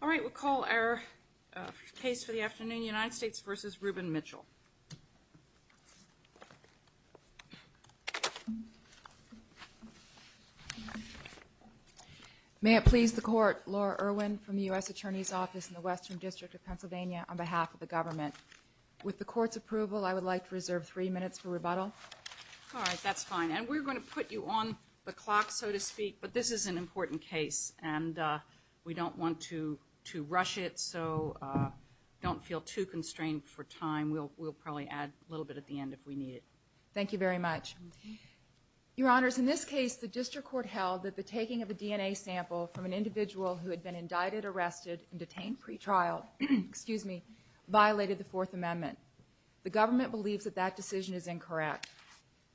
All right, we'll call our case for the afternoon, United States v. Rubin-Mitchell. May it please the Court, Laura Irwin from the U.S. Attorney's Office in the Western District of Pennsylvania, on behalf of the government. With the Court's approval, I would like to reserve three minutes for rebuttal. All right, that's fine, and we're going to put you on the clock, so to speak, but this is an important case, and we don't want to rush it, so don't feel too constrained for time. We'll probably add a little bit at the end if we need it. Thank you very much. Your Honors, in this case, the District Court held that the taking of a DNA sample from an individual who had been indicted, arrested, and detained pretrial violated the Fourth Amendment. The government believes that that decision is incorrect.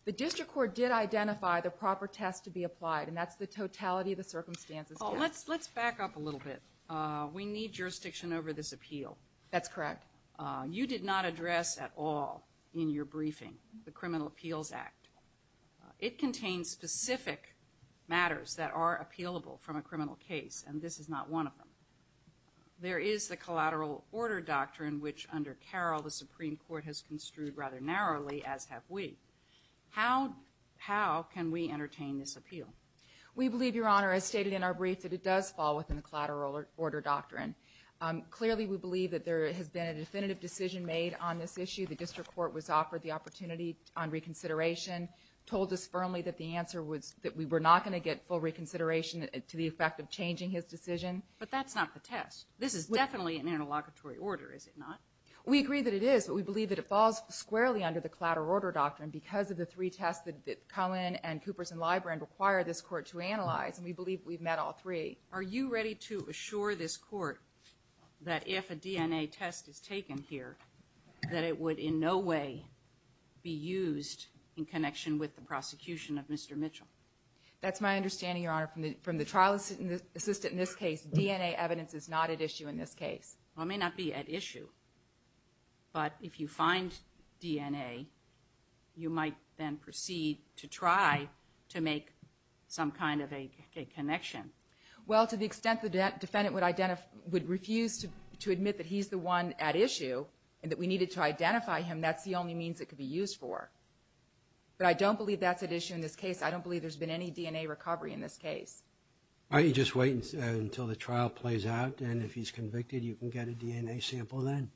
The District Court did identify the proper test to be applied, and that's the totality of the circumstances. Oh, let's back up a little bit. We need jurisdiction over this appeal. That's correct. You did not address at all in your briefing the Criminal Appeals Act. It contains specific matters that are appealable from a criminal case, and this is not one of them. There is the collateral order doctrine, which, under Carroll, the Supreme Court has construed rather narrowly, as have we. How can we entertain this appeal? We believe, Your Honor, as stated in our brief, that it does fall within the collateral order doctrine. Clearly, we believe that there has been a definitive decision made on this issue. The District Court was offered the opportunity on reconsideration, told us firmly that the answer was that we were not going to get full reconsideration to the effect of changing his decision. But that's not the test. This is definitely an interlocutory order, is it not? We agree that it is, but we believe that it falls squarely under the collateral order doctrine because of the three tests that Cullen and Coopers and Librand require this Court to analyze, and we believe we've met all three. Are you ready to assure this Court that if a DNA test is taken here, that it would in no way be used in connection with the prosecution of Mr. Mitchell? That's my understanding, Your Honor. From the trial assistant in this case, DNA evidence is not at issue in this case. Well, it may not be at issue, but if you find DNA, you might then proceed to try to make some kind of a connection. Well, to the extent the defendant would refuse to admit that he's the one at issue and that we needed to identify him, that's the only means it could be used for. But I don't believe that's at issue in this case. I don't believe there's been any DNA recovery in this case. Are you just waiting until the trial plays out, and if he's convicted, you can get a DNA sample then?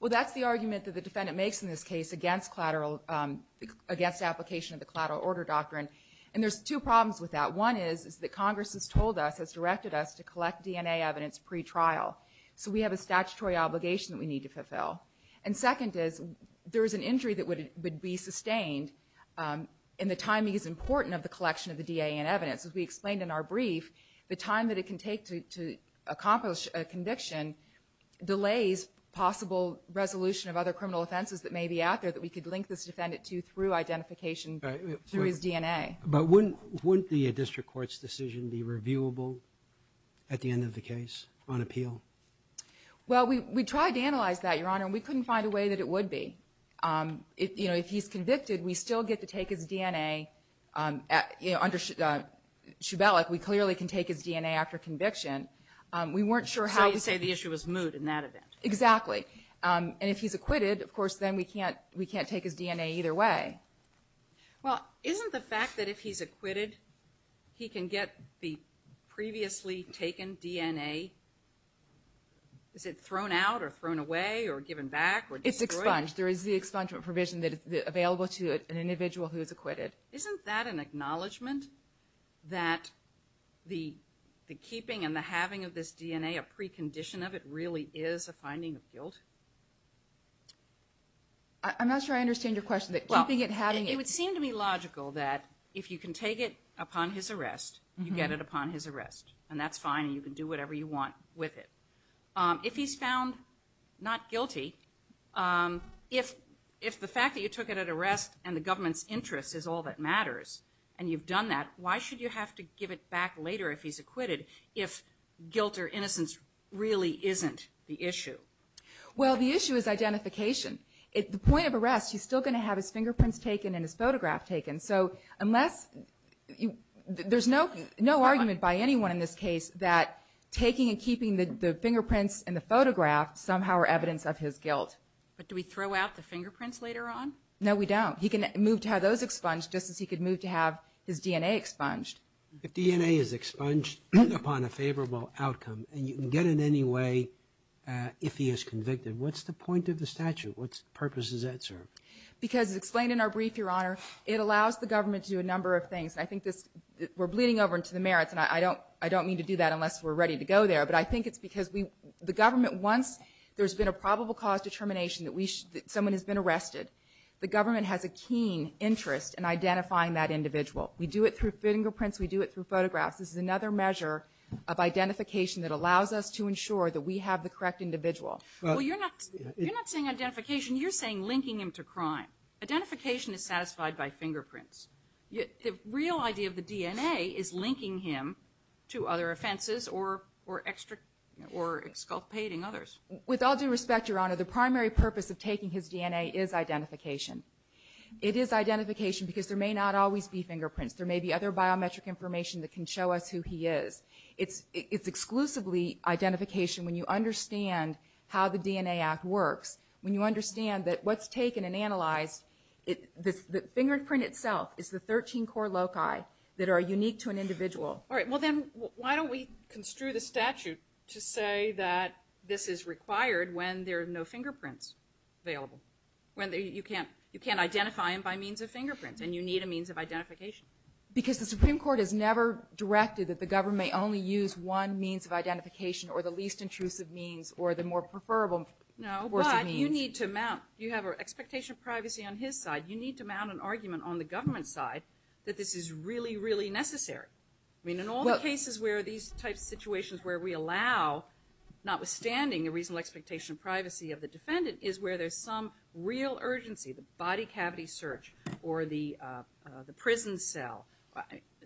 Well, that's the argument that the defendant makes in this case against application of the collateral order doctrine, and there's two problems with that. One is that Congress has told us, has directed us to collect DNA evidence pre-trial. So we have a statutory obligation that we need to fulfill. And second is there is an injury that would be sustained in the timing is important of the collection of the DNA and evidence. As we explained in our brief, the time that it can take to accomplish a conviction delays possible resolution of other criminal offenses that may be out there that we could link this defendant to through identification through his DNA. But wouldn't the district court's decision be reviewable at the end of the case on appeal? Well, we tried to analyze that, Your Honor, and we couldn't find a way that it would be. If, you know, if he's convicted, we still get to take his DNA. You know, under Shubelek, we clearly can take his DNA after conviction. We weren't sure how. So you say the issue was moot in that event? Exactly. And if he's acquitted, of course, then we can't take his DNA either way. Well, isn't the fact that if he's acquitted, he can get the previously taken DNA, is it thrown out or thrown away or given back or destroyed? It's expunged. There is the expungement provision that is available to an individual who is acquitted. Isn't that an acknowledgment that the keeping and the having of this DNA, a precondition of it, really is a finding of guilt? I'm not sure I understand your question. That keeping it, having it... It would seem to me logical that if you can take it upon his arrest, you get it upon his arrest. And that's fine. And you can do whatever you want with it. If he's found not guilty, if the fact that you took it at arrest and the government's interest is all that matters, and you've done that, why should you have to give it back later if he's acquitted if guilt or innocence really isn't the issue? Well, the issue is identification. At the point of arrest, he's still going to have his fingerprints taken and his photograph taken. So unless... There's no argument by anyone in this case that taking and keeping the fingerprints and the photograph somehow are evidence of his guilt. But do we throw out the fingerprints later on? No, we don't. He can move to have those expunged just as he could move to have his DNA expunged. If DNA is expunged upon a favorable outcome, and you can get in any way if he is convicted, what's the point of the statute? What purpose does that serve? Because as explained in our brief, Your Honor, it allows the government to do a number of things. And I think this... We're bleeding over into the merits, and I don't mean to do that unless we're ready to go there. But I think it's because the government, once there's been a probable cause determination that someone has been arrested, the government has a keen interest in identifying that individual. We do it through fingerprints. We do it through photographs. This is another measure of identification that allows us to ensure that we have the correct individual. Well, you're not saying identification. You're saying linking him to crime. Identification is satisfied by fingerprints. The real idea of the DNA is linking him to other offenses or exculpating others. With all due respect, Your Honor, the primary purpose of taking his DNA is identification. It is identification because there may not always be fingerprints. There may be other biometric information that can show us who he is. It's exclusively identification when you understand how the DNA Act works. When you understand that what's taken and analyzed... The fingerprint itself is the 13 core loci that are unique to an individual. All right. Well, then why don't we construe the statute to say that this is required when there are no fingerprints available? You can't identify him by means of fingerprints, and you need a means of identification. Because the Supreme Court has never directed that the government may only use one means of identification or the least intrusive means or the more preferable. No, but you need to mount... You have an expectation of privacy on his side. You need to mount an argument on the government's side that this is really, really necessary. I mean, in all the cases where these types of situations where we allow, notwithstanding the reasonable expectation of privacy of the defendant, is where there's some real urgency. The body cavity search or the prison cell.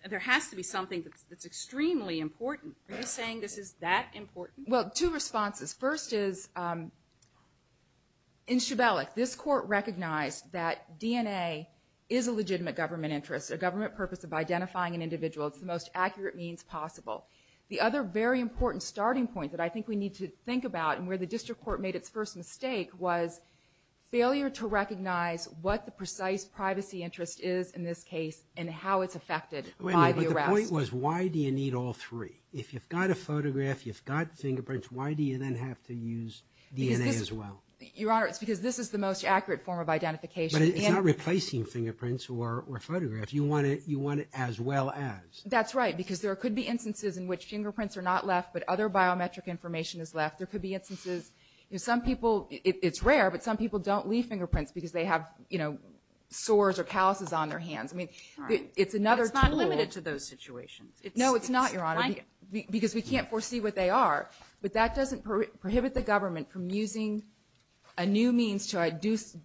There has to be something that's extremely important. Are you saying this is that important? Well, two responses. First is, in Shibelik, this court recognized that DNA is a legitimate government interest, a government purpose of identifying an individual. It's the most accurate means possible. The other very important starting point that I think we need to think about and where the district court made its first mistake was failure to recognize what the precise privacy interest is in this case and how it's affected by the arrest. Wait a minute, but the point was why do you need all three? If you've got a photograph, you've got fingerprints, why do you then have to use DNA as well? Your Honor, it's because this is the most accurate form of identification. But it's not replacing fingerprints or photographs. You want it as well as. That's right, because there could be instances in which fingerprints are not left, but other biometric information is left. There could be instances, you know, some people, it's rare, but some people don't leave fingerprints because they have, you know, sores or calluses on their hands. I mean, it's another tool. It's not limited to those situations. No, it's not, Your Honor, because we can't foresee what they are. But that doesn't prohibit the government from using a new means to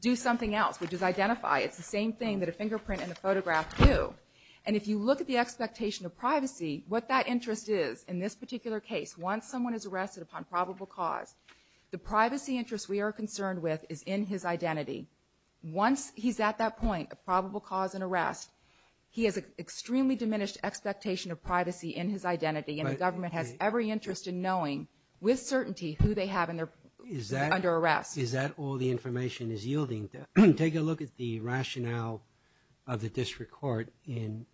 do something else, which is identify. It's the same thing that a fingerprint and a photograph do. And if you look at the expectation of privacy, what that interest is in this particular case, once someone is arrested upon probable cause, the privacy interest we are concerned with is in his identity. Once he's at that point of probable cause and arrest, he has an extremely diminished expectation of privacy in his identity, and the government has every interest in knowing with certainty who they have under arrest. Is that all the information is yielding? Take a look at the rationale of the district court in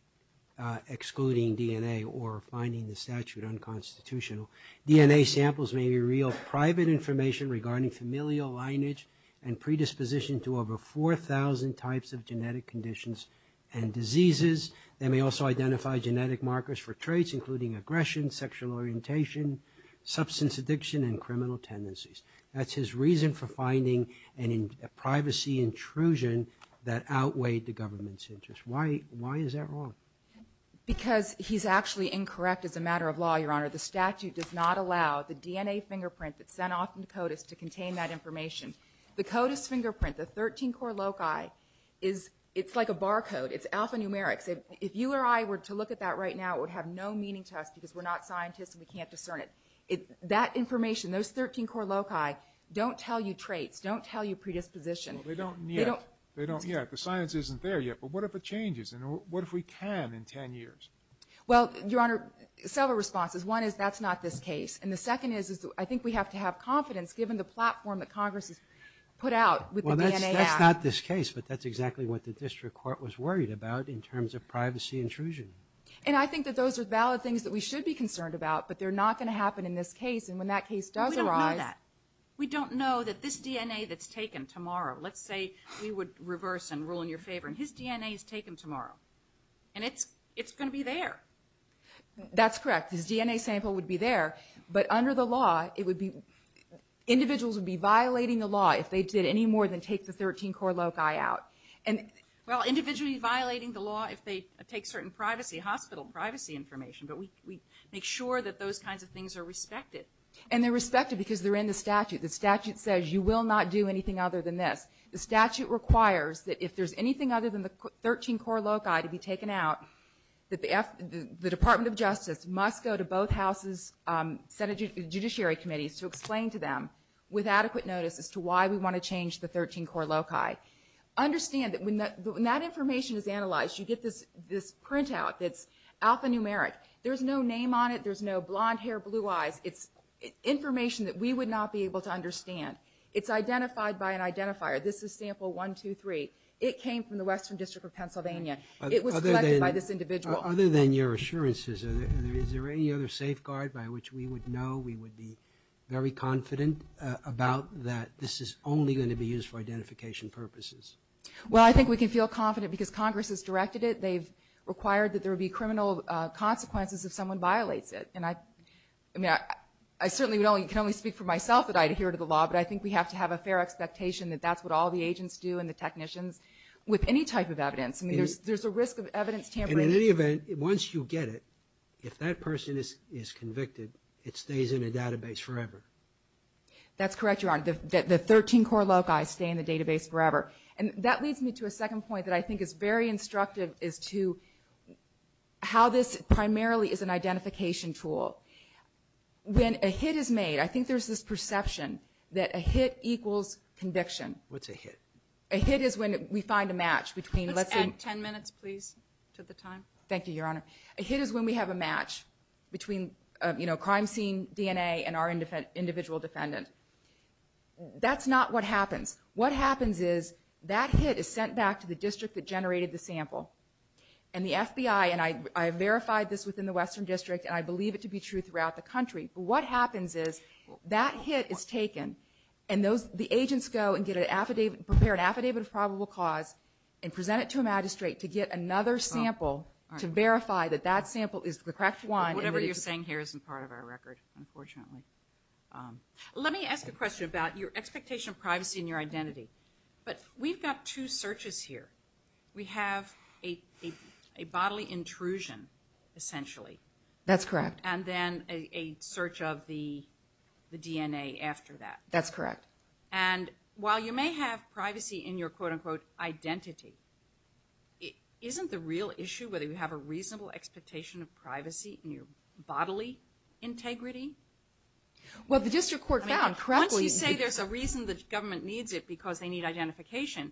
excluding DNA or finding the statute unconstitutional. DNA samples may be real private information regarding familial lineage and predisposition to over 4,000 types of genetic conditions and diseases. They may also identify genetic markers for traits, including aggression, sexual orientation, substance addiction, and criminal tendencies. That's his reason for finding a privacy intrusion that outweighed the government's interest. Why is that wrong? Because he's actually incorrect as a matter of law, Your Honor. The statute does not allow the DNA fingerprint that's sent off to CODIS to contain that information. The CODIS fingerprint, the 13-core loci, it's like a barcode. It's alphanumeric. If you or I were to look at that right now, it would have no meaning to us because we're not scientists and we can't discern it. That information, those 13-core loci, don't tell you traits, don't tell you predisposition. Well, they don't yet. They don't yet. The science isn't there yet. But what if it changes? And what if we can in 10 years? Well, Your Honor, several responses. One is that's not this case. And the second is I think we have to have confidence, given the platform that Congress has put out with the DNA Act. That's not this case, but that's exactly what the district court was worried about in terms of privacy intrusion. And I think that those are valid things that we should be concerned about, but they're not going to happen in this case. And when that case does arise- We don't know that. We don't know that this DNA that's taken tomorrow, let's say we would reverse and rule in your favor, and his DNA is taken tomorrow. And it's going to be there. That's correct. His DNA sample would be there. But under the law, it would be, individuals would be violating the law if they did any more than take the 13-core loci out. And, well, individually violating the law if they take certain privacy, hospital privacy information, but we make sure that those kinds of things are respected. And they're respected because they're in the statute. The statute says you will not do anything other than this. The statute requires that if there's anything other than the 13-core loci to be taken out, that the Department of Justice must go to both houses, Senate Judiciary Committees to explain to them with adequate notice as to why we want to change the 13-core loci. Understand that when that information is analyzed, you get this printout that's alphanumeric. There's no name on it. There's no blonde hair, blue eyes. It's information that we would not be able to understand. It's identified by an identifier. This is sample 1, 2, 3. It came from the Western District of Pennsylvania. It was collected by this individual. Other than your assurances, is there any other safeguard by which we would know, we would be very confident about that this is only going to be used for identification purposes? Well, I think we can feel confident because Congress has directed it. They've required that there would be criminal consequences if someone violates it. And I mean, I certainly can only speak for myself that I adhere to the law, but I think we have to have a fair expectation that that's what all the agents do and the technicians with any type of evidence. I mean, there's a risk of evidence tampering. And in any event, once you get it, if that person is convicted, it stays in a database forever. That's correct, Your Honor. The 13 core loci stay in the database forever. And that leads me to a second point that I think is very instructive is to how this primarily is an identification tool. When a hit is made, I think there's this perception that a hit equals conviction. What's a hit? A hit is when we find a match between, let's say... Let's add 10 minutes, please, to the time. Thank you, Your Honor. A hit is when we have a match between crime scene DNA and our individual defendant. That's not what happens. What happens is that hit is sent back to the district that generated the sample. And the FBI, and I have verified this within the Western District, and I believe it to be true throughout the country, but what happens is that hit is taken and the agents go and get an affidavit, prepare an affidavit of probable cause and present it to a magistrate to get another sample to verify that that sample is the correct one. But whatever you're saying here isn't part of our record, unfortunately. Let me ask a question about your expectation of privacy and your identity. But we've got two searches here. We have a bodily intrusion, essentially. That's correct. And then a search of the DNA after that. That's correct. And while you may have privacy in your quote-unquote identity, it isn't the real issue whether you have a reasonable expectation of privacy in your bodily integrity? Well, the district court found, correctly. Once you say there's a reason the government needs it because they need identification,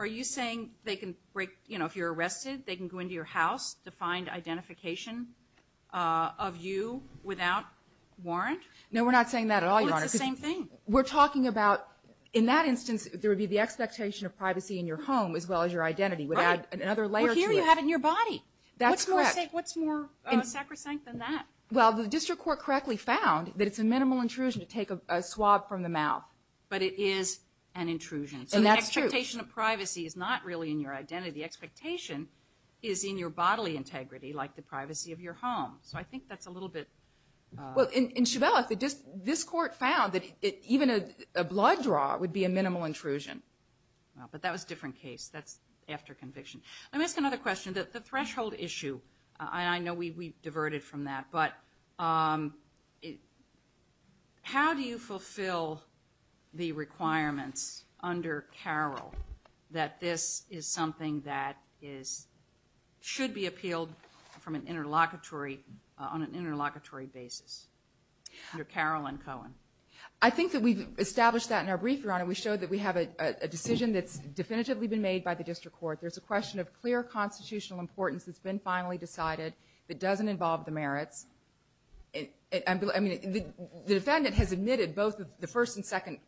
are you saying they can break, you know, if you're arrested, they can go into your house to find identification of you without warrant? No, we're not saying that at all, Your Honor. Well, it's the same thing. We're talking about, in that instance, there would be the expectation of privacy in your home as well as your identity would add another layer to it. Well, here you have it in your body. That's correct. What's more sacrosanct than that? Well, the district court correctly found that it's a minimal intrusion to take a swab from the mouth. But it is an intrusion. And that's true. So the expectation of privacy is not really in your identity. The expectation is in your bodily integrity, like the privacy of your home. So I think that's a little bit... Well, in Chevelleff, this court found that even a blood draw would be a minimal intrusion. Well, but that was a different case. That's after conviction. Let me ask another question. The threshold issue, I know we diverted from that, but how do you fulfill the requirements under Carroll that this is something that should be appealed on an interlocutory basis, under Carroll and Cohen? I think that we've established that in our brief, Your Honor. We showed that we have a decision that's definitively been made by the district court. There's a question of clear constitutional importance that's been finally decided that doesn't involve the merits. I mean, the defendant has admitted both the first and second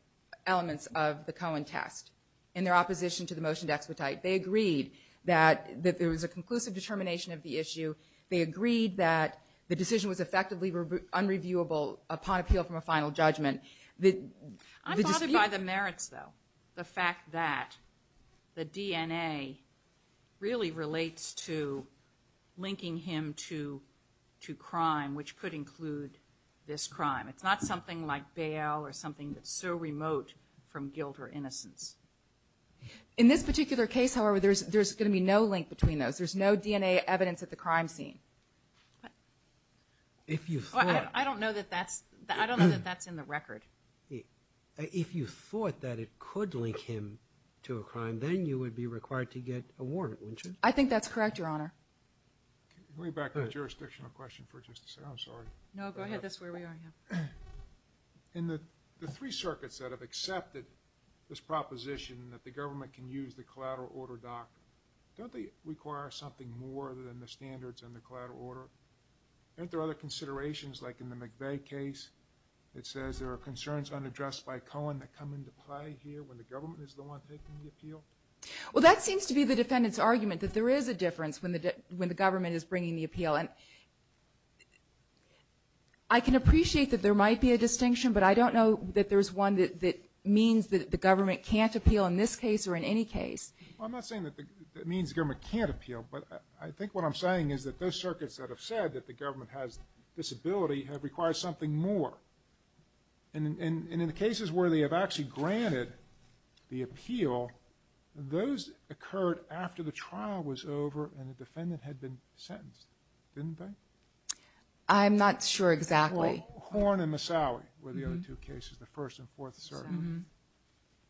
elements of the Cohen test in their opposition to the motion to expedite. They agreed that there was a conclusive determination of the issue. They agreed that the decision was effectively unreviewable upon appeal from a final judgment. I'm bothered by the merits, though. The fact that the DNA really relates to linking him to crime, which could include this crime. It's not something like bail or something that's so remote from guilt or innocence. In this particular case, however, there's going to be no link between those. There's no DNA evidence at the crime scene. If you thought. I don't know that that's in the record. If you thought that it could link him to a crime, then you would be required to get a warrant, wouldn't you? I think that's correct, Your Honor. Can we go back to the jurisdictional question for just a second? I'm sorry. No, go ahead. That's where we are. In the three circuits that have accepted this proposition that the government can use the collateral order doctrine, don't they require something more than the standards and the collateral order? Aren't there other considerations, like in the McVeigh case that says there are concerns unaddressed by Cohen that come into play here when the government is the one taking the appeal? Well, that seems to be the defendant's argument that there is a difference when the government is bringing the appeal. I can appreciate that there might be a distinction, but I don't know that there's one that means that the government can't appeal in this case or in any case. I'm not saying that that means the government can't appeal, but I think what I'm saying is that those circuits that have said that the government has this ability have required something more. And in the cases where they have actually granted the appeal, those occurred after the trial was over and the defendant had been sentenced, didn't they? I'm not sure exactly. Horn and Massawi were the other two cases, the first and fourth circuit.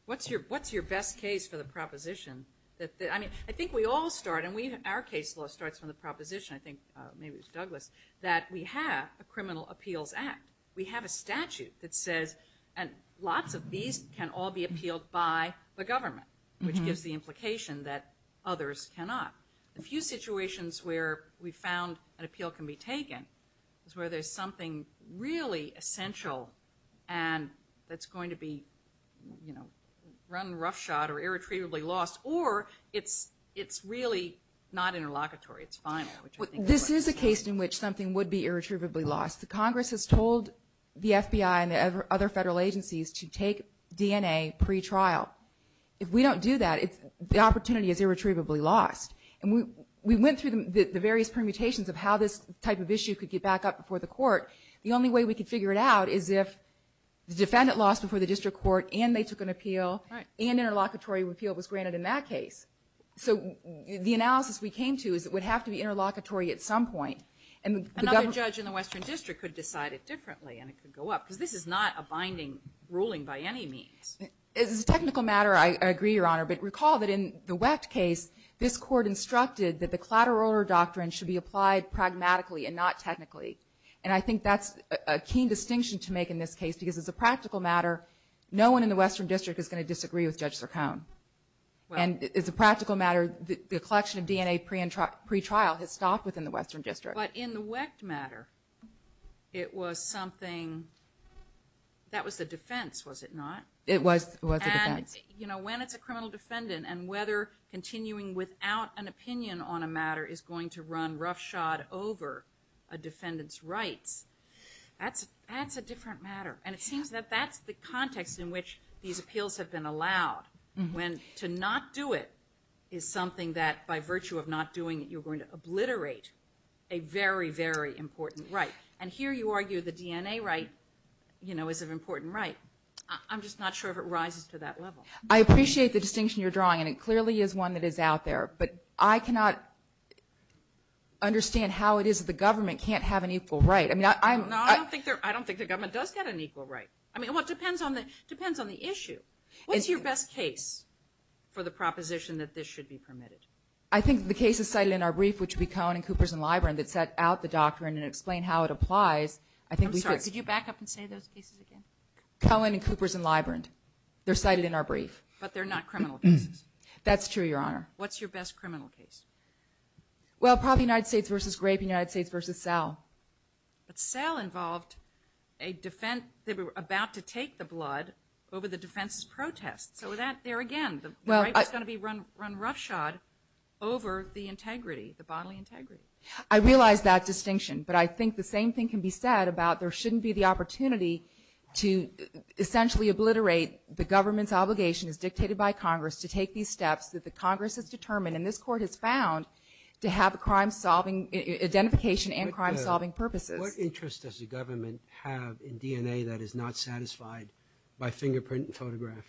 What's your best case for the proposition? I mean, I think we all start, and our case law starts from the proposition. I think maybe it was Douglas, that we have a criminal appeals act. We have a statute that says, and lots of these can all be appealed by the government, which gives the implication that others cannot. A few situations where we found an appeal can be taken is where there's something really essential and that's going to be, you know, run roughshod or irretrievably lost, or it's really not interlocutory. This is a case in which something would be irretrievably lost. The Congress has told the FBI and the other federal agencies to take DNA pre-trial. If we don't do that, the opportunity is irretrievably lost. And we went through the various permutations of how this type of issue could get back up before the court. The only way we could figure it out is if the defendant lost before the district court and they took an appeal and interlocutory repeal was granted in that case. So the analysis we came to is it would have to be interlocutory at some point. And the government- Another judge in the Western District could decide it differently and it could go up because this is not a binding ruling by any means. It's a technical matter. I agree, Your Honor. But recall that in the Wecht case, this court instructed that the collateral order doctrine should be applied pragmatically and not technically. And I think that's a keen distinction to make in this case because it's a practical matter. No one in the Western District is going to disagree with Judge Sircone. And it's a practical matter. The collection of DNA pre-trial has stopped within the Western District. But in the Wecht matter, it was something- that was the defense, was it not? It was a defense. You know, when it's a criminal defendant and whether continuing without an opinion on a matter is going to run roughshod over a defendant's rights, that's a different matter. And it seems that that's the context in which these appeals have been allowed when to not do it is something that, by virtue of not doing it, you're going to obliterate a very, very important right. And here you argue the DNA right, you know, is an important right. I'm just not sure if it rises to that level. I appreciate the distinction you're drawing, and it clearly is one that is out there. But I cannot understand how it is that the government can't have an equal right. I mean, I'm- No, I don't think the government does get an equal right. I mean, it depends on the issue. What's your best case for the proposition that this should be permitted? I think the case is cited in our brief, which would be Cohen and Coopers and Librand that set out the doctrine and explain how it applies. I'm sorry, could you back up and say those cases again? Cohen and Coopers and Librand. They're cited in our brief. But they're not criminal cases. That's true, Your Honor. What's your best criminal case? Well, probably United States versus Grape and United States versus Sal. But Sal involved a defense, they were about to take the blood over the defense's protest. So with that, there again, the right was going to be run roughshod over the integrity, the bodily integrity. I realize that distinction. But I think the same thing can be said about there shouldn't be the opportunity to essentially obliterate the government's obligation as dictated by Congress to take these steps that the Congress has determined and this court has found to have a crime-solving identification and crime-solving purposes. What interest does the government have in DNA that is not satisfied by fingerprint and photograph?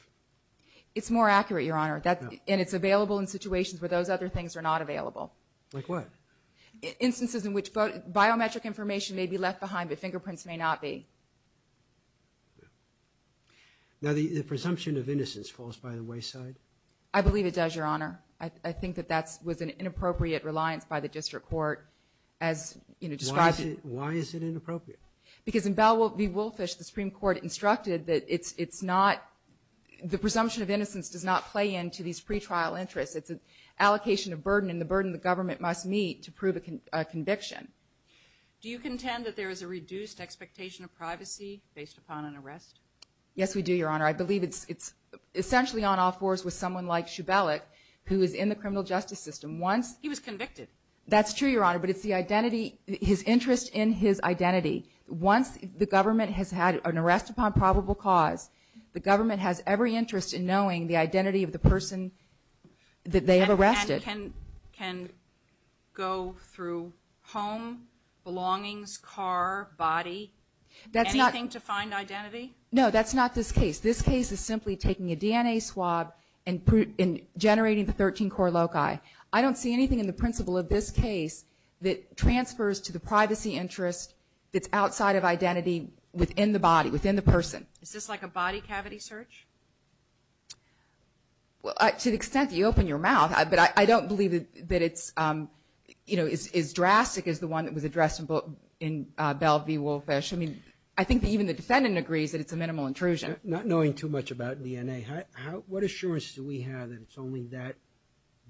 It's more accurate, Your Honor. And it's available in situations where those other things are not available. Like what? Instances in which biometric information may be left behind, but fingerprints may not be. Now, the presumption of innocence falls by the wayside? I believe it does, Your Honor. I think that that was an inappropriate reliance by the district court as described. Why is it inappropriate? Because in Bell v. Woolfish, the Supreme Court instructed that it's not, the presumption of innocence does not play into these pretrial interests. It's an allocation of burden and the burden the government must meet to prove a conviction. Do you contend that there is a reduced expectation of privacy based upon an arrest? Yes, we do, Your Honor. I believe it's essentially on all fours with someone like Shubelek, who is in the criminal justice system. Once... He was convicted. That's true, Your Honor. But it's the identity, his interest in his identity. Once the government has had an arrest upon probable cause, the government has every interest in knowing the identity of the person that they have arrested. And can go through home, belongings, car, body, anything to find identity? No, that's not this case. This case is simply taking a DNA swab and generating the 13-core loci. I don't see anything in the principle of this case that transfers to the privacy interest that's outside of identity within the body, within the person. Is this like a body cavity search? Well, to the extent that you open your mouth, but I don't believe that it's, you know, is drastic as the one that was addressed in Belle v. Wolfe. I mean, I think that even the defendant agrees that it's a minimal intrusion. Not knowing too much about DNA, what assurance do we have that it's only that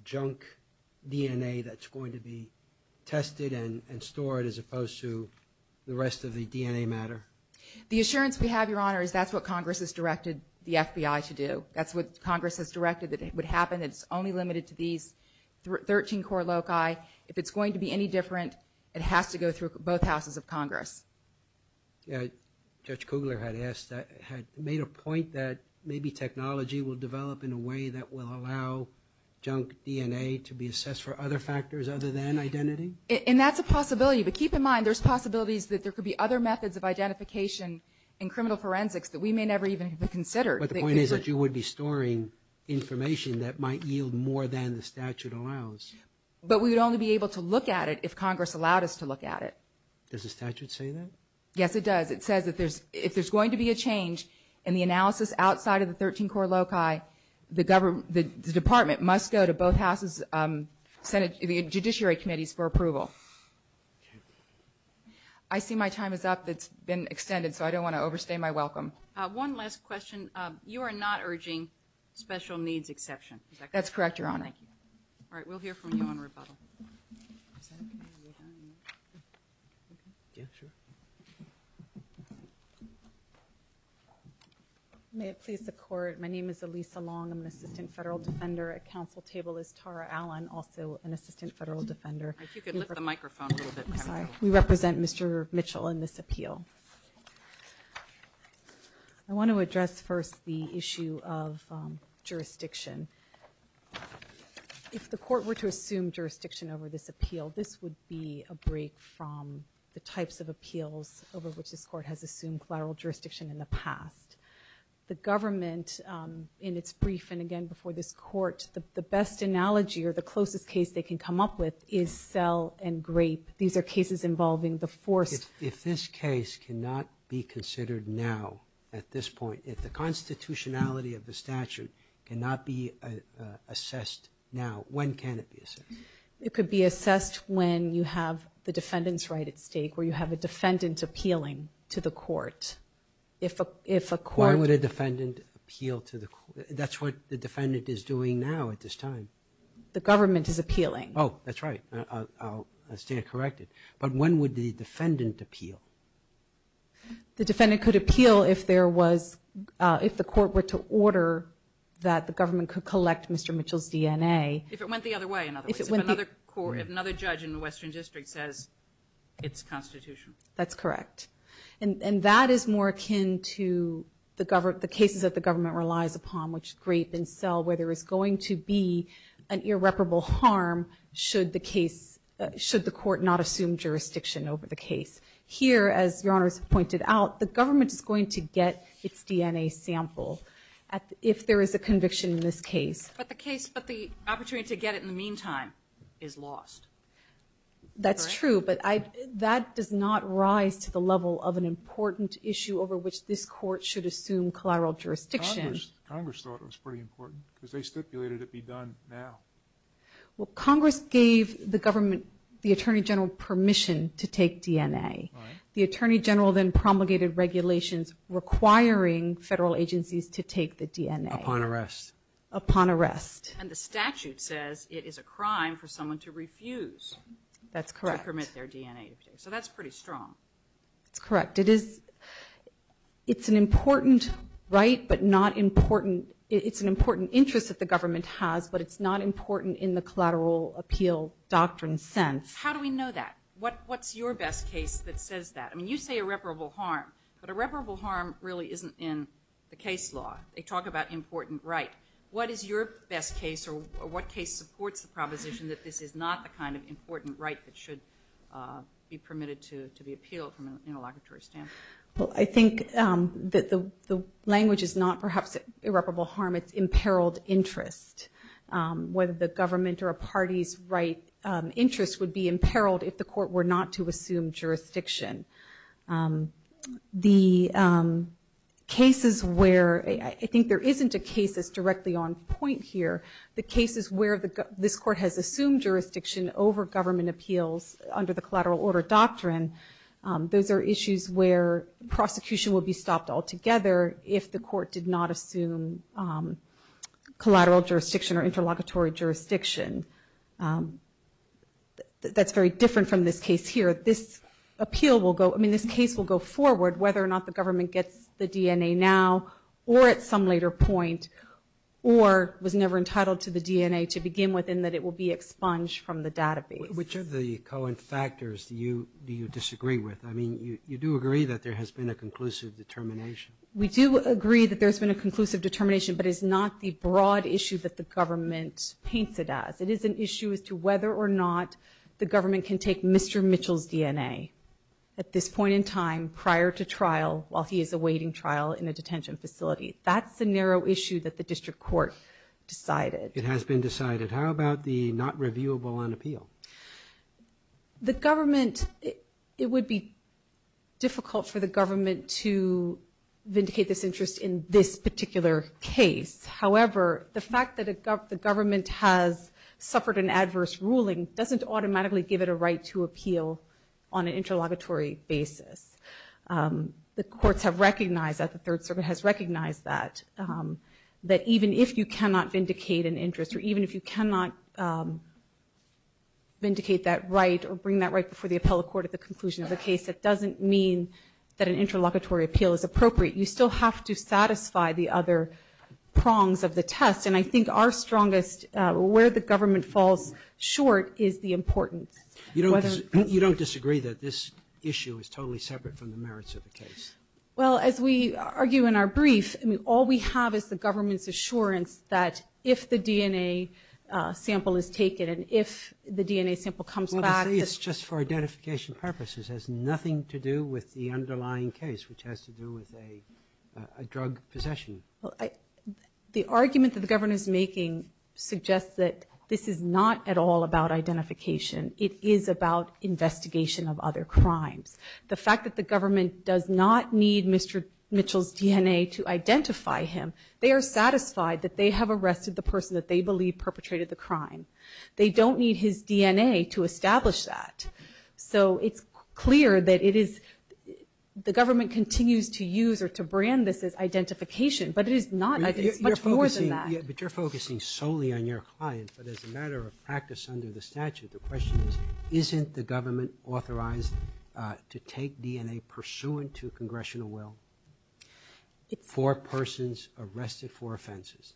junk DNA that's going to be tested and stored as opposed to the rest of the DNA matter? The assurance we have, Your Honor, is that's what Congress has directed the FBI to do. That's what Congress has directed that it would happen. It's only limited to these 13-core loci. If it's going to be any different, it has to go through both houses of Congress. Judge Kugler had made a point that maybe technology will develop in a way that will allow junk DNA to be assessed for other factors other than identity? And that's a possibility. But keep in mind, there's possibilities that there could be other methods of identification in criminal forensics that we may never even have considered. But the point is that you would be storing information that might yield more than the statute allows. But we would only be able to look at it if Congress allowed us to look at it. Does the statute say that? Yes, it does. It says that if there's going to be a change in the analysis outside of the 13-core loci, the department must go to both houses' judiciary committees for approval. I see my time is up. It's been extended, so I don't want to overstay my welcome. One last question. You are not urging special needs exception, is that correct? That's correct, Your Honor. Thank you. All right. We'll hear from you on rebuttal. May it please the Court. My name is Elisa Long. I'm an assistant federal defender. At council table is Tara Allen, also an assistant federal defender. If you could lift the microphone a little bit. I'm sorry. We represent Mr. Mitchell in this appeal. I want to address first the issue of jurisdiction. If the court were to assume jurisdiction over this appeal, this would be a break from the types of appeals over which this court has assumed collateral jurisdiction in the past. The government, in its brief, and again before this court, the best analogy, or the closest case they can come up with, is Sell and Grape. These are cases involving If this case cannot be considered now, at this point, if the constitutionality of the statute cannot be assessed now, when can it be assessed? It could be assessed when you have the defendant's right at stake, where you have a defendant appealing to the court. Why would a defendant appeal to the court? That's what the defendant is doing now at this time. The government is appealing. Oh, that's right. I'll stand corrected. But when would the defendant appeal? The defendant could appeal if there was, if the court were to order that the government could collect Mr. Mitchell's DNA. If it went the other way, in other words. If another court, if another judge in the Western District says it's constitutional. That's correct. And that is more akin to the government, the cases that the government relies upon, which Grape and Sell, where there is going to be an irreparable harm should the case, should the court not assume jurisdiction over the case. Here, as Your Honors pointed out, the government is going to get its DNA sample if there is a conviction in this case. But the case, but the opportunity to get it in the meantime is lost. That's true. But that does not rise to the level of an important issue over which this court should assume collateral jurisdiction. Congress thought it was pretty important because they stipulated it be done now. Well, Congress gave the government, the Attorney General, permission to take DNA. The Attorney General then promulgated regulations requiring federal agencies to take the DNA. Upon arrest. Upon arrest. And the statute says it is a crime for someone to refuse. That's correct. To permit their DNA. So that's pretty strong. That's correct. It is, it's an important, right, but not important. It's an important interest that the government has, but it's not important in the collateral appeal doctrine sense. How do we know that? What, what's your best case that says that? I mean, you say irreparable harm, but irreparable harm really isn't in the case law. They talk about important right. What is your best case or what case supports the proposition that this is not the kind of important right that should be permitted to be appealed from an interlocutory standpoint? Well, I think that the language is not perhaps irreparable harm. It's imperiled interest. Whether the government or a party's right interest would be imperiled if the court were not to assume jurisdiction. The cases where, I think there isn't a case that's directly on point here. The cases where the, this court has assumed jurisdiction over government appeals under the collateral order doctrine. Those are issues where prosecution will be stopped altogether if the court did not assume collateral jurisdiction or interlocutory jurisdiction. That's very different from this case here. This appeal will go, I mean, this case will go forward whether or not the government gets the DNA now or at some later point or was never entitled to the DNA to begin with and that it will be expunged from the database. Which of the co-factors do you disagree with? I mean, you do agree that there has been a conclusive determination. We do agree that there's been a conclusive determination but it's not the broad issue that the government paints it as. It is an issue as to whether or not the government can take Mr. Mitchell's DNA at this point in time prior to trial while he is awaiting trial in a detention facility. That's the narrow issue that the district court decided. It has been decided. How about the not reviewable on appeal? The government, it would be difficult for the government to vindicate this interest in this particular case. However, the fact that the government has suffered an adverse ruling doesn't automatically give it a right to appeal on an interlocutory basis. The courts have recognized that the Third Circuit has recognized that. That even if you cannot vindicate an interest or even if you cannot vindicate that right or bring that right before the appellate court at the conclusion of the case, it doesn't mean that an interlocutory appeal is appropriate. You still have to satisfy the other prongs of the test. And I think our strongest, where the government falls short is the importance. You don't disagree that this issue is totally separate from the merits of the case? Well, as we argue in our brief, all we have is the government's assurance that if the DNA sample is taken and if the DNA sample comes back. It's just for identification purposes. It has nothing to do with the underlying case, which has to do with a drug possession. The argument that the government is making suggests that this is not at all about identification. It is about investigation of other crimes. The fact that the government does not need Mr. Mitchell's DNA to identify him, they are satisfied that they have arrested the person that they believe perpetrated the crime. They don't need his DNA to establish that. So it's clear that it is, the government continues to use or to brand this as identification, but it is not. But you're focusing solely on your client, but as a matter of practice under the statute, the question is, isn't the government authorized to take DNA pursuant to congressional will? Four persons arrested for offenses.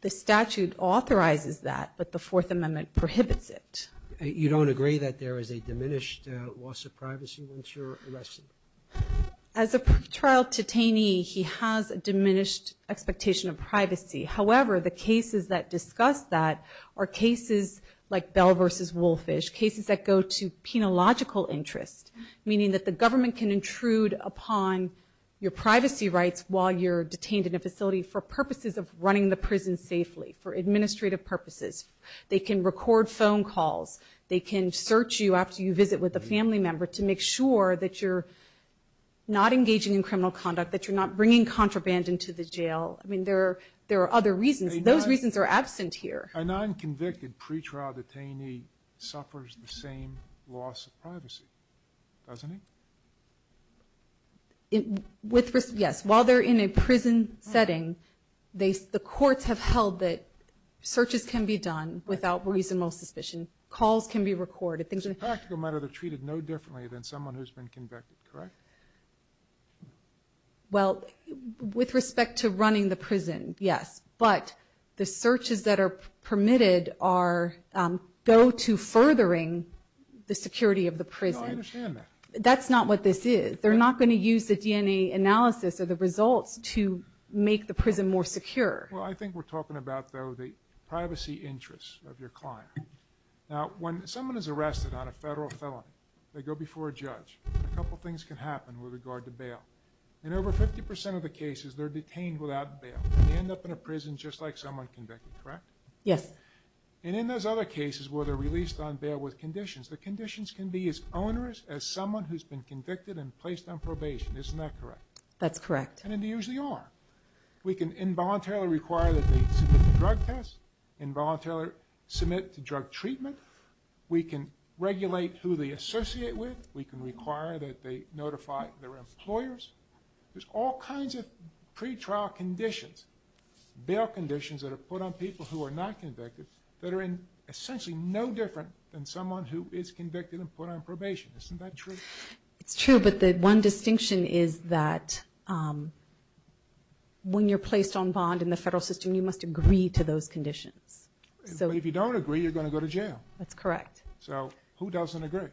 The statute authorizes that, but the Fourth Amendment prohibits it. You don't agree that there is a diminished loss of privacy once you're arrested? As a trial detainee, he has a diminished expectation of privacy. However, the cases that discuss that are cases like Bell v. Wolfish, cases that go to penological interest, meaning that the government can intrude upon your privacy rights while you're detained in a facility for purposes of running the prison safely, for administrative purposes. They can record phone calls. They can search you after you visit with a family member to make sure that you're not engaging in criminal conduct, that you're not bringing contraband into the jail. I mean, there are other reasons. Those reasons are absent here. A non-convicted pretrial detainee suffers the same loss of privacy, doesn't he? Yes, while they're in a prison setting, the courts have held that searches can be done without reasonable suspicion. Calls can be recorded. It's a practical matter they're treated no differently than someone who's been convicted, correct? Well, with respect to running the prison, yes. But the searches that are permitted are go to furthering the security of the prison. No, I understand that. That's not what this is. They're not going to use the DNA analysis or the results to make the prison more secure. Well, I think we're talking about, though, the privacy interests of your client. Now, when someone is arrested on a federal felony, they go before a judge. A couple of things can happen with regard to bail. In over 50% of the cases, they're detained without bail. They end up in a prison just like someone convicted, correct? Yes. And in those other cases where they're released on bail with conditions, the conditions can be as onerous as someone who's been convicted and placed on probation. Isn't that correct? That's correct. And they usually are. We can involuntarily require that they submit the drug test, involuntarily submit to drug treatment. We can regulate who they associate with. We can require that they notify their employers. There's all kinds of pretrial conditions, bail conditions that are put on people who are not convicted that are essentially no different than someone who is convicted and put on probation. Isn't that true? It's true, but the one distinction is that when you're placed on bond in the federal system, you must agree to those conditions. But if you don't agree, you're going to go to jail. That's correct. So who doesn't agree?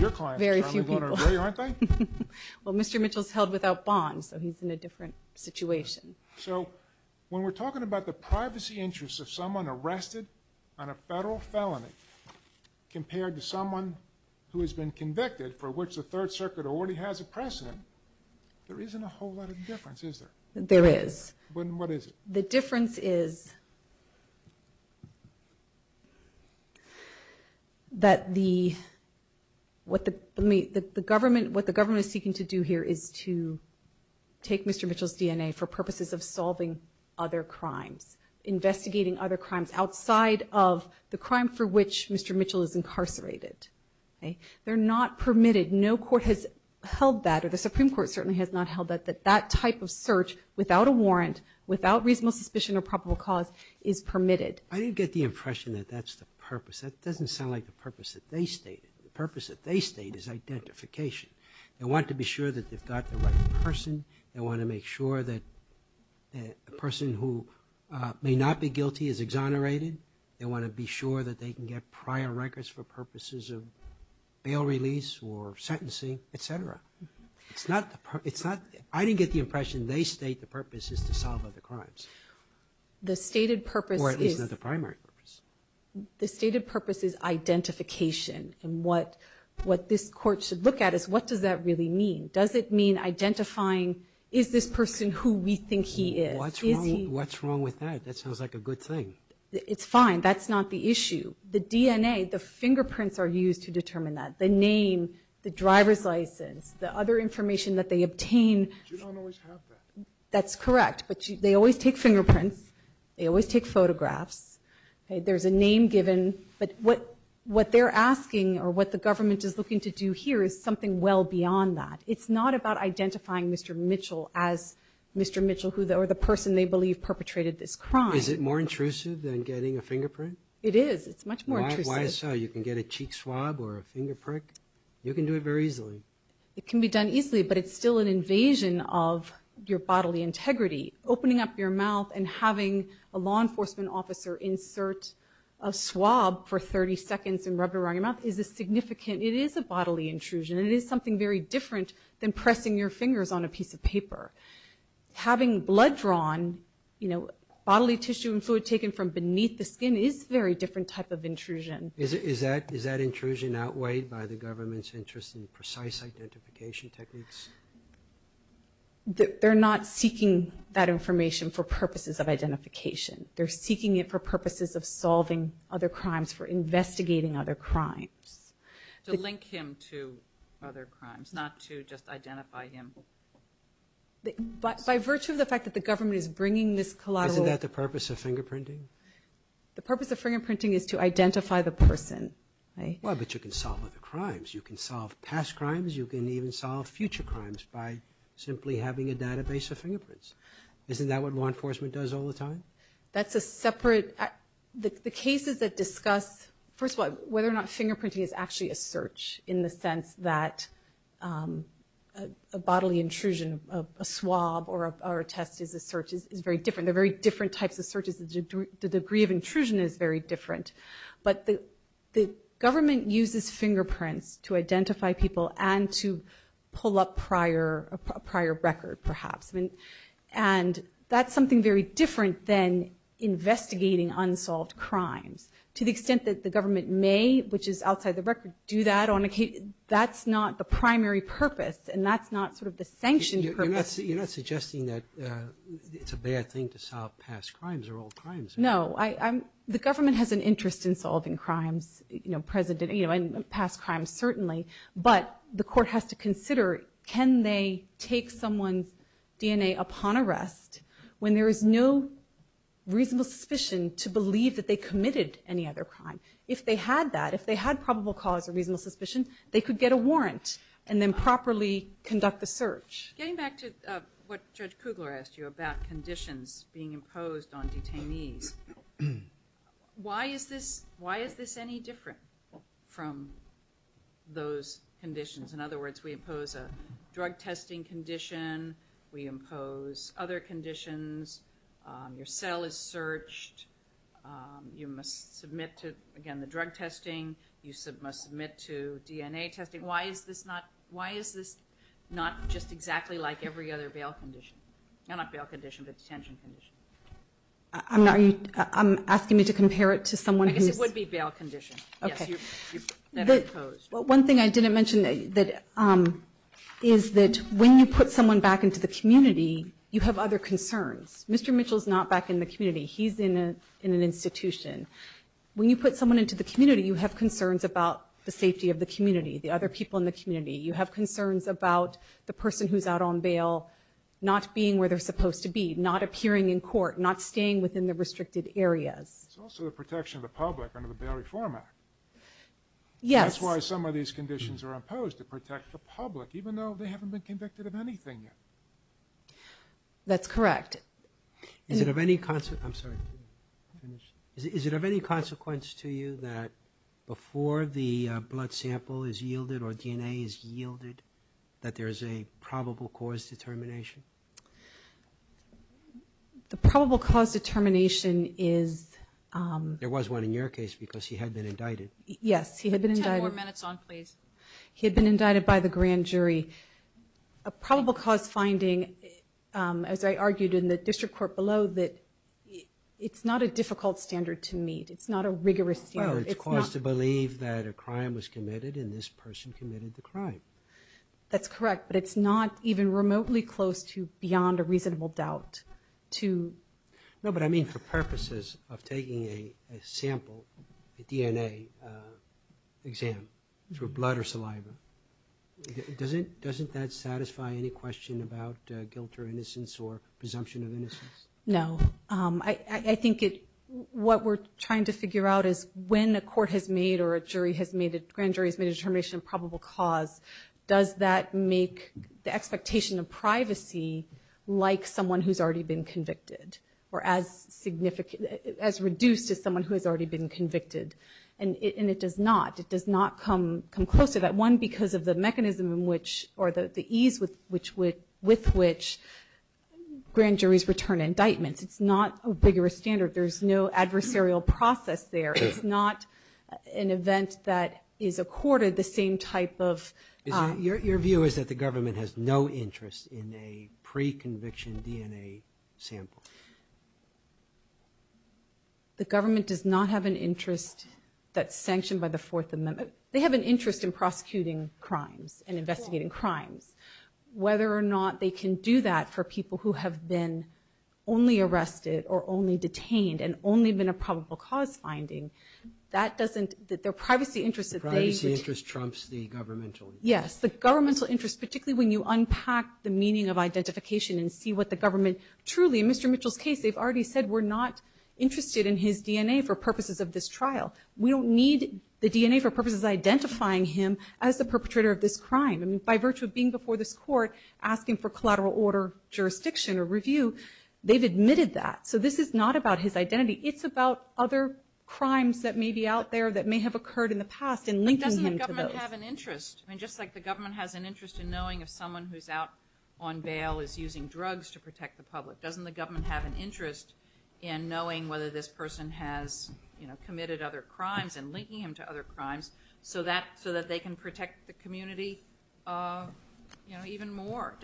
Your clients are going to agree, aren't they? Well, Mr. Mitchell's held without bond, so he's in a different situation. So when we're talking about the privacy interests of someone arrested on a federal felony compared to someone who has been convicted for which the Third Circuit already has a precedent, there isn't a whole lot of difference, is there? There is. What is it? The difference is that what the government is seeking to do here is to take Mr. Mitchell's DNA for purposes of solving other crimes, investigating other crimes outside of the crime for which Mr. Mitchell is incarcerated. They're not permitted. No court has held that or the Supreme Court certainly has not held that that type of search without a warrant, without reasonable suspicion or probable cause, is permitted. I didn't get the impression that that's the purpose. That doesn't sound like the purpose that they stated. The purpose that they state is identification. They want to be sure that they've got the right person. They want to make sure that a person who may not be guilty is exonerated. They want to be sure that they can get prior records for purposes of bail release or sentencing, etc. It's not the purpose. I didn't get the impression they state the purpose is to solve other crimes. The stated purpose is... Or at least not the primary purpose. The stated purpose is identification and what this court should look at is what does that really mean? Does it mean identifying is this person who we think he is? What's wrong with that? That sounds like a good thing. It's fine. That's not the issue. The DNA, the fingerprints are used to determine that. The name, the driver's license, the other information that they obtain... You don't always have that. That's correct, but they always take fingerprints. They always take photographs. There's a name given, but what they're asking or what the government is looking to do here is something well beyond that. It's not about identifying Mr. Mitchell as Mr. Mitchell or the person they believe perpetrated this crime. Is it more intrusive than getting a fingerprint? It is. It's much more intrusive. Why so? You can get a cheek swab or a finger prick. You can do it very easily. It can be done easily, but it's still an invasion of your bodily integrity. Opening up your mouth and having a law enforcement officer insert a swab for 30 seconds and rub it around your mouth is a significant... It is a bodily intrusion. It is something very different than pressing your fingers on a piece of paper. Having blood drawn, bodily tissue and fluid taken from beneath the skin is a very different type of intrusion. Is that intrusion outweighed by the government's interest in precise identification techniques? They're not seeking that information for purposes of identification. They're seeking it for purposes of solving other crimes, for investigating other crimes. To link him to other crimes, not to just identify him? By virtue of the fact that the government is bringing this collateral... Isn't that the purpose of fingerprinting? The purpose of fingerprinting is to identify the person. But you can solve other crimes. You can solve past crimes. You can even solve future crimes by simply having a database of fingerprints. Isn't that what law enforcement does all the time? That's a separate... The cases that discuss, first of all, whether or not fingerprinting is actually a search in the sense that a bodily intrusion, a swab or a test is a search is very different. They're very different types of searches. The degree of intrusion is very different. But the government uses fingerprints to identify people and to pull up a prior record, perhaps. And that's something very different than investigating unsolved crimes. To the extent that the government may, which is outside the record, do that on a case, that's not the primary purpose. And that's not sort of the sanctioned purpose. You're not suggesting that it's a bad thing to solve past crimes or old crimes? No, the government has an interest in solving past crimes, certainly. But the court has to consider, can they take someone's DNA upon arrest when there is no reasonable suspicion to believe that they committed any other crime? If they had that, if they had probable cause or reasonable suspicion, they could get a warrant and then properly conduct the search. Getting back to what Judge Kugler asked you about conditions being imposed on detainees, why is this any different from those conditions? In other words, we impose a drug testing condition, we impose other conditions, your cell is searched, you must submit to, again, the drug testing, you must submit to DNA testing. Why is this not just exactly like every other bail condition? Well, not bail condition, but detention condition. I'm asking you to compare it to someone who's... I guess it would be bail condition. Okay. One thing I didn't mention is that when you put someone back into the community, you have other concerns. Mr. Mitchell's not back in the community, he's in an institution. When you put someone into the community, you have concerns about the safety of the community, the other people in the community. You have concerns about the person who's out on bail not being where they're supposed to be, not appearing in court, not staying within the restricted areas. It's also the protection of the public under the Bail Reform Act. That's why some of these conditions are imposed, to protect the public, even though they haven't been convicted of anything yet. That's correct. Is it of any consequence to you that before the blood sample is yielded or DNA is yielded, that there is a probable cause determination? The probable cause determination is... There was one in your case, because he had been indicted. Yes, he had been indicted. Ten more minutes on, please. He had been indicted by the grand jury. A probable cause finding, as I argued in the district court below, that it's not a difficult standard to meet. It's not a rigorous standard. It's caused to believe that a crime was committed and this person committed the crime. That's correct, but it's not even remotely close to beyond a reasonable doubt to... No, but I mean for purposes of taking a sample, a DNA exam through blood or saliva, doesn't that satisfy any question about guilt or innocence or presumption of innocence? No, I think what we're trying to figure out is when a court has made or a jury has made, a grand jury has made a determination of probable cause, does that make the expectation of privacy like someone who's already been convicted or as significant... as reduced to someone who has already been convicted? And it does not. It does not come close to that. One, because of the mechanism in which or the ease with which grand juries return indictments. It's not a rigorous standard. There's no adversarial process there. It's not an event that is accorded the same type of... Your view is that the government has no interest in a pre-conviction DNA sample. The government does not have an interest that's sanctioned by the Fourth Amendment. They have an interest in prosecuting crimes and investigating crimes. Whether or not they can do that for people who have been only arrested or only detained and only been a probable cause finding, that doesn't... Their privacy interest... The privacy interest trumps the governmental. Yes, the governmental interest, particularly when you unpack the meaning of identification and see what the government... Truly, in Mr. Mitchell's case, they've already said we're not interested in his DNA for purposes of this trial. We don't need the DNA for purposes of identifying him as the perpetrator of this crime. By virtue of being before this court, asking for collateral order jurisdiction or review, they've admitted that. So this is not about his identity. It's about other crimes that may be out there that may have occurred in the past and linking him to those. But doesn't the government have an interest? Just like the government has an interest in knowing if someone who's out on bail is using drugs to protect the public. Doesn't the government have an interest in knowing whether this person has committed other crimes and linking him to other crimes so that they can protect the community even more?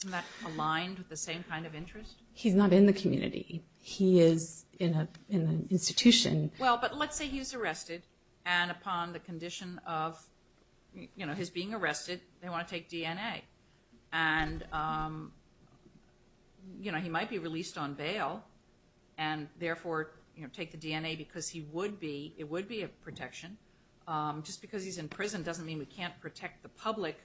Isn't that aligned with the same kind of interest? He's not in the community. He is in an institution. Well, but let's say he's arrested and upon the condition of his being arrested, they want to take DNA. And he might be released on bail. And therefore, take the DNA because he would be, it would be a protection. Just because he's in prison doesn't mean we can't protect the public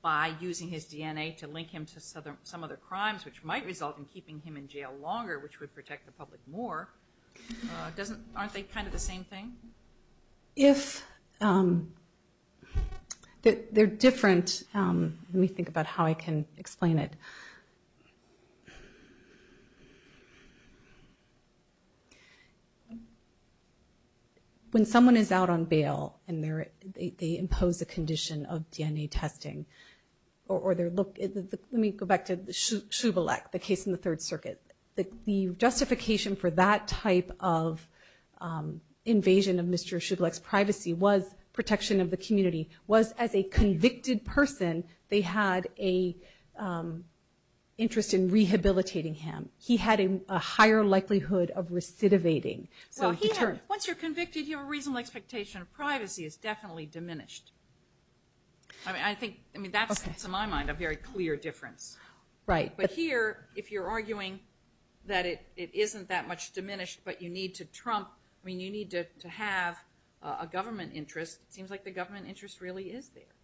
by using his DNA to link him to some other crimes, which might result in keeping him in jail longer, which would protect the public more. Aren't they kind of the same thing? If they're different, let me think about how I can explain it. When someone is out on bail and they impose a condition of DNA testing or their look, let me go back to Shubilek, the case in the Third Circuit. The justification for that type of invasion of Mr. Shubilek's privacy was protection of the community, was as a convicted person, they had a interest in rehabilitating him. He had a higher chance of being released. He had a higher likelihood of recidivating. Once you're convicted, you have a reasonable expectation of privacy is definitely diminished. I mean, that's, in my mind, a very clear difference. But here, if you're arguing that it isn't that much diminished, but you need to trump, I mean, you need to have a government interest. It seems like the government interest really is there.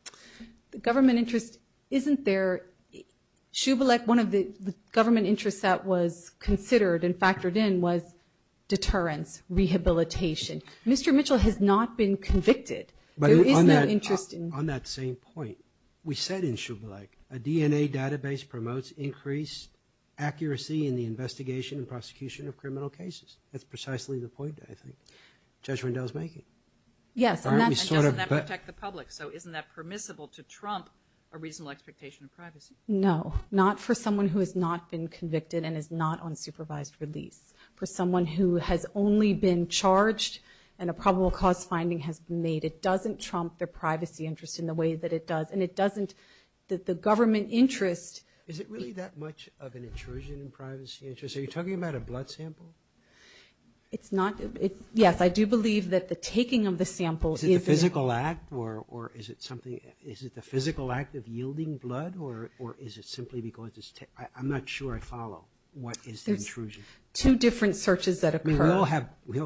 The government interest isn't there. Shubilek, one of the government interests that was considered, and factored in, was deterrence, rehabilitation. Mr. Mitchell has not been convicted. There is no interest in- On that same point, we said in Shubilek, a DNA database promotes increased accuracy in the investigation and prosecution of criminal cases. That's precisely the point, I think, Judge Rendell's making. Yes, and doesn't that protect the public? So isn't that permissible to trump a reasonable expectation of privacy? No, not for someone who has not been convicted and is not on supervised release. For someone who has only been charged and a probable cause finding has been made, it doesn't trump their privacy interest in the way that it does. And it doesn't, the government interest- Is it really that much of an intrusion in privacy interest? Are you talking about a blood sample? It's not. Yes, I do believe that the taking of the sample is- Is it the physical act, Is it the physical act of yielding blood, or is it simply because it's- I'm not sure I follow. What is the intrusion? Two different searches that occur. I mean, we all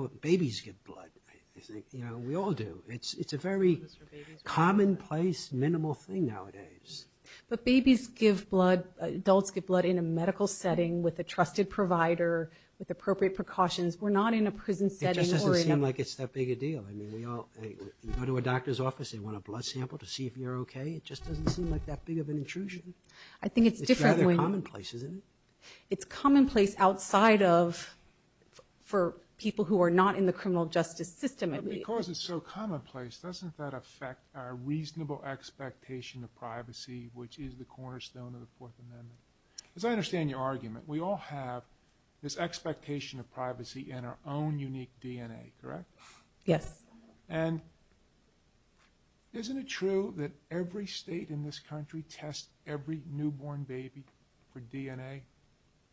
have, babies give blood, I think. You know, we all do. It's a very commonplace, minimal thing nowadays. But babies give blood, adults give blood in a medical setting with a trusted provider, with appropriate precautions. We're not in a prison setting- It just doesn't seem like it's that big a deal. I mean, we all, you go to a doctor's office, they want a blood sample to see if you're okay. It just doesn't seem like that big of an intrusion. I think it's different when- It's rather commonplace, isn't it? It's commonplace outside of, for people who are not in the criminal justice system. But because it's so commonplace, doesn't that affect our reasonable expectation of privacy, which is the cornerstone of the Fourth Amendment? As I understand your argument, we all have this expectation of privacy in our own unique DNA, correct? Yes. And isn't it true that every state in this country tests every newborn baby for DNA,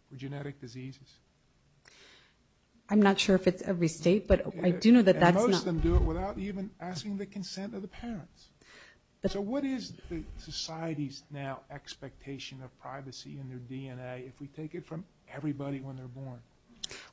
for genetic diseases? I'm not sure if it's every state, but I do know that that's not- And most of them do it without even asking the consent of the parents. So what is the society's, now, expectation of privacy in their DNA if we take it from everybody when they're born?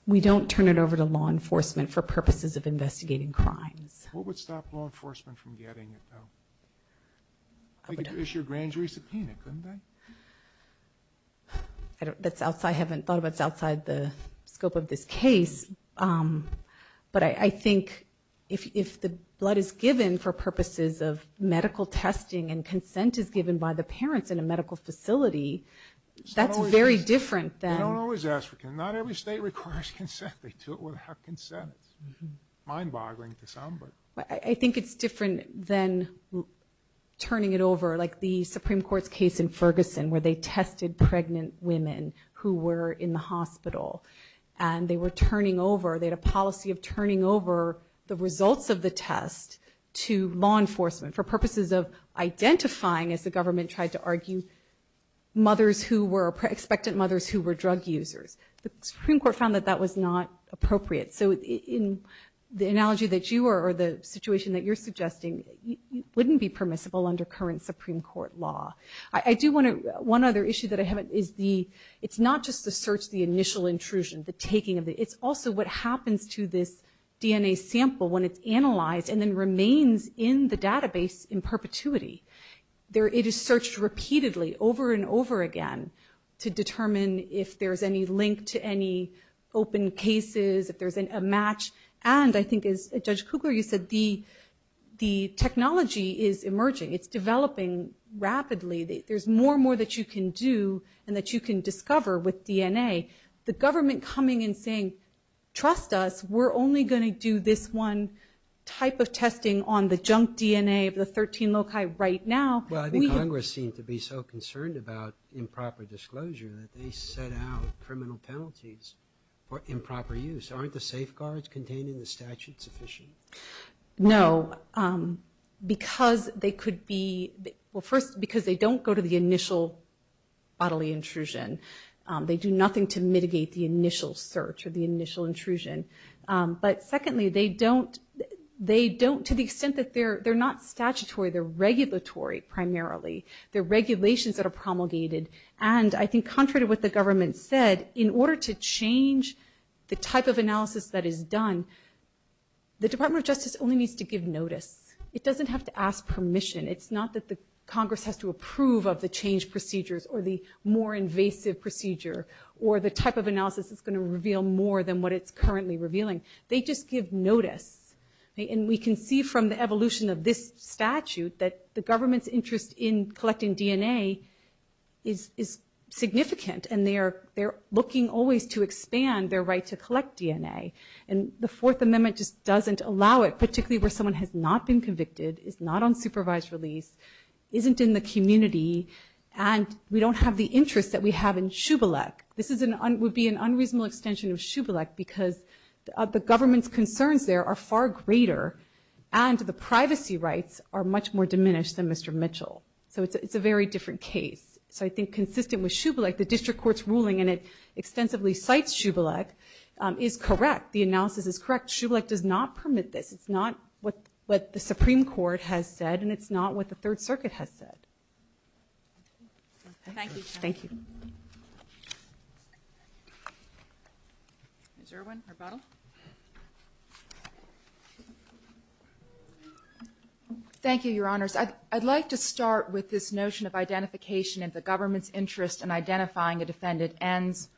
We don't turn it over to law enforcement for purposes of investigating crimes. What would stop law enforcement from getting it, though? They could issue a grand jury subpoena, couldn't they? I don't, that's outside, I haven't thought of, that's outside the scope of this case. But I think if the blood is given for purposes of medical testing and consent is given by the parents in a medical facility, that's very different than- You don't always ask for consent. Not every state requires consent. They do it without consent. Mind-boggling to some, but- I think it's different than turning it over, like the Supreme Court's case in Ferguson, where they tested pregnant women who were in the hospital. And they were turning over, they had a policy of turning over the results of the test to law enforcement for purposes of identifying, as the government tried to argue, mothers who were, expectant mothers who were drug users. The Supreme Court found that that was not appropriate. So in the analogy that you are, or the situation that you're suggesting, wouldn't be permissible under current Supreme Court law. I do want to- One other issue that I have is the- It's not just the search, the initial intrusion, the taking of the- It's also what happens to this DNA sample when it's analyzed and then remains in the database in perpetuity. It is searched repeatedly, over and over again, to determine if there's any link to any open cases, if there's a match. And I think, as Judge Kugler, you said the technology is emerging. It's developing rapidly. There's more and more that you can do and that you can discover with DNA. The government coming and saying, trust us, we're only going to do this one type of testing on the junk DNA of the 13 loci right now. Well, I think Congress seemed to be so concerned about improper disclosure that they set out criminal penalties for improper use. Aren't the safeguards contained in the statute sufficient? No, because they could be, well, first, because they don't go to the initial bodily intrusion. They do nothing to mitigate the initial search or the initial intrusion. But secondly, they don't, they don't, to the extent that they're not statutory, they're regulatory, primarily. They're regulations that are promulgated. And I think contrary to what the government said, in order to change the type of analysis that is done, the Department of Justice only needs to give notice. It doesn't have to ask permission. It's not that the Congress has to approve of the change procedures or the more invasive procedure or the type of analysis that's going to reveal more than what it's currently revealing. They just give notice. And we can see from the evolution of this statute that the government's interest in collecting DNA is significant. And they're looking always to expand their right to collect DNA. And the Fourth Amendment just doesn't allow it, particularly where someone has not been convicted, is not on supervised release, isn't in the community, and we don't have the interest that we have in Shubalek. This would be an unreasonable extension of Shubelek because the government's concerns there are far greater and the privacy rights are much more diminished than Mr. Mitchell. So it's a very different case. So I think consistent with Shubelek, the district court's ruling, and it extensively cites Shubelek, is correct. The analysis is correct. Shubelek does not permit this. It's not what the Supreme Court has said, and it's not what the Third Circuit has said. Thank you. Thank you. Ms. Irwin, rebuttal. Thank you, Your Honors. I'd like to start with this notion of identification in the government's interest in identifying a defendant ends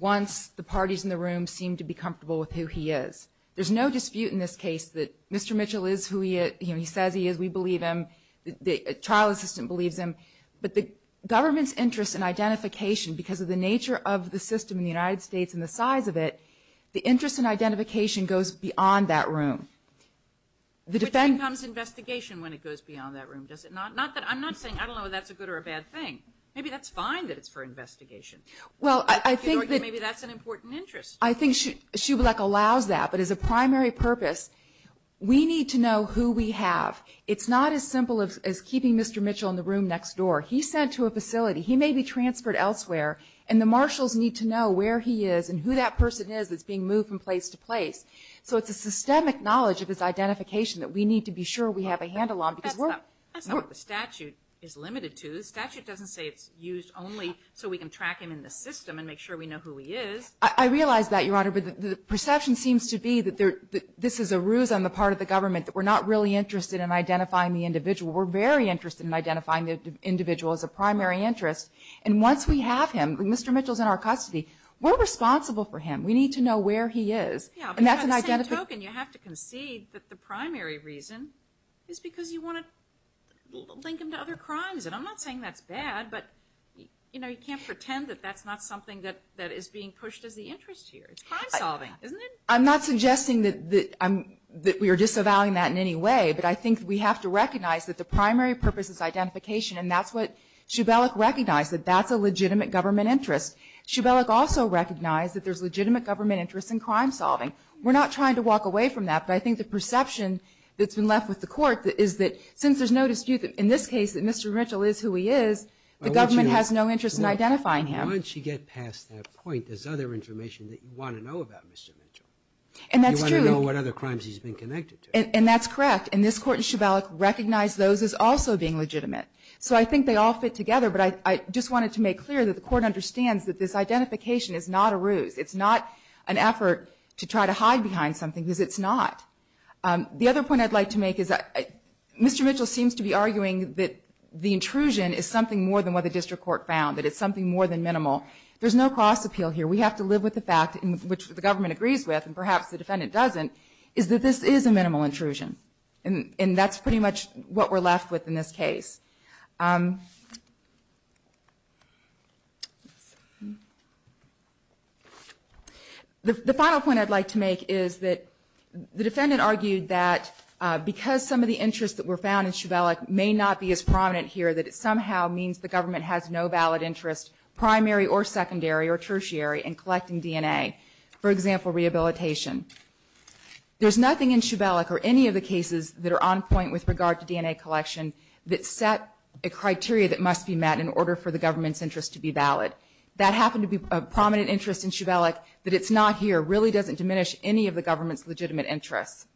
once the parties in the room seem to be comfortable with who he is. There's no dispute in this case that Mr. Mitchell is who he is. He says he is. We believe him. The trial assistant believes him. But the government's interest in identification because of the nature of the system in the United States and the size of it, the interest in identification goes beyond that room. Which becomes investigation when it goes beyond that room. Does it not? I'm not saying, I don't know if that's a good or a bad thing. Maybe that's fine that it's for investigation. Well, I think that maybe that's an important interest. I think Schublek allows that. But as a primary purpose, we need to know who we have. It's not as simple as keeping Mr. Mitchell in the room next door. He's sent to a facility. He may be transferred elsewhere. And the marshals need to know where he is and who that person is that's being moved from place to place. So it's a systemic knowledge of his identification that we need to be sure we have a handle on. Because that's not what the statute is limited to. The statute doesn't say it's used only so we can track him in the system and make sure we know who he is. I realize that, Your Honor. But the perception seems to be that this is a ruse on the part of the government that we're not really interested in identifying the individual. We're very interested in identifying the individual as a primary interest. And once we have him, Mr. Mitchell's in our custody, we're responsible for him. We need to know where he is. Yeah, but on the same token, you have to concede that the primary reason is because you want to link him to other crimes. And I'm not saying that's bad. But you can't pretend that that's not something that is being pushed as the interest here. It's crime solving, isn't it? I'm not suggesting that we are disavowing that in any way. But I think we have to recognize that the primary purpose is identification. And that's what Shubelek recognized, that that's a legitimate government interest. Shubelek also recognized that there's legitimate government interest in crime solving. We're not trying to walk away from that. But I think the perception that's been left with the court is that since there's no dispute that in this case, that Mr. Mitchell is who he is, the government has no interest in identifying him. Once you get past that point, there's other information that you want to know about Mr. Mitchell. And that's true. You want to know what other crimes he's been connected to. And that's correct. And this court in Shubelek recognized those as also being legitimate. So I think they all fit together. But I just wanted to make clear that the court understands that this identification is not a ruse. It's not an effort to try to hide behind something because it's not. The other point I'd like to make is that Mr. Mitchell seems to be arguing that the intrusion is something more than what the district court found, that it's something more than minimal. There's no cross appeal here. We have to live with the fact, which the government agrees with, and perhaps the defendant doesn't, is that this is a minimal intrusion. And that's pretty much what we're left with in this case. The final point I'd like to make is that the defendant argued that because some of the interests that were found in Shubelek may not be as prominent here, that it somehow means the government has no valid interest, primary or secondary or tertiary, in collecting DNA. For example, rehabilitation. There's nothing in Shubelek or any of the cases that are on point with regard to DNA collection that set a criteria that must be met in order for the government's interest to be valid. That happened to be a prominent interest in Shubelek that it's not here really doesn't diminish any of the government's legitimate interests.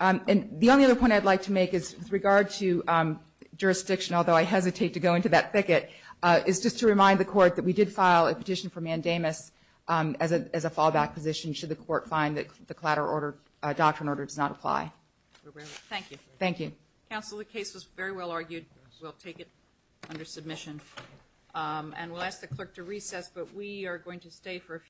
And the only other point I'd like to make is with regard to jurisdiction, although I hesitate to go into that thicket, is just to remind the court that we did file a petition for mandamus as a fallback position should the court find that the collateral order, doctrine order does not apply. Thank you. Thank you. Counsel, the case was very well argued. And we'll ask the clerk to recess, but we are going to stay for a few.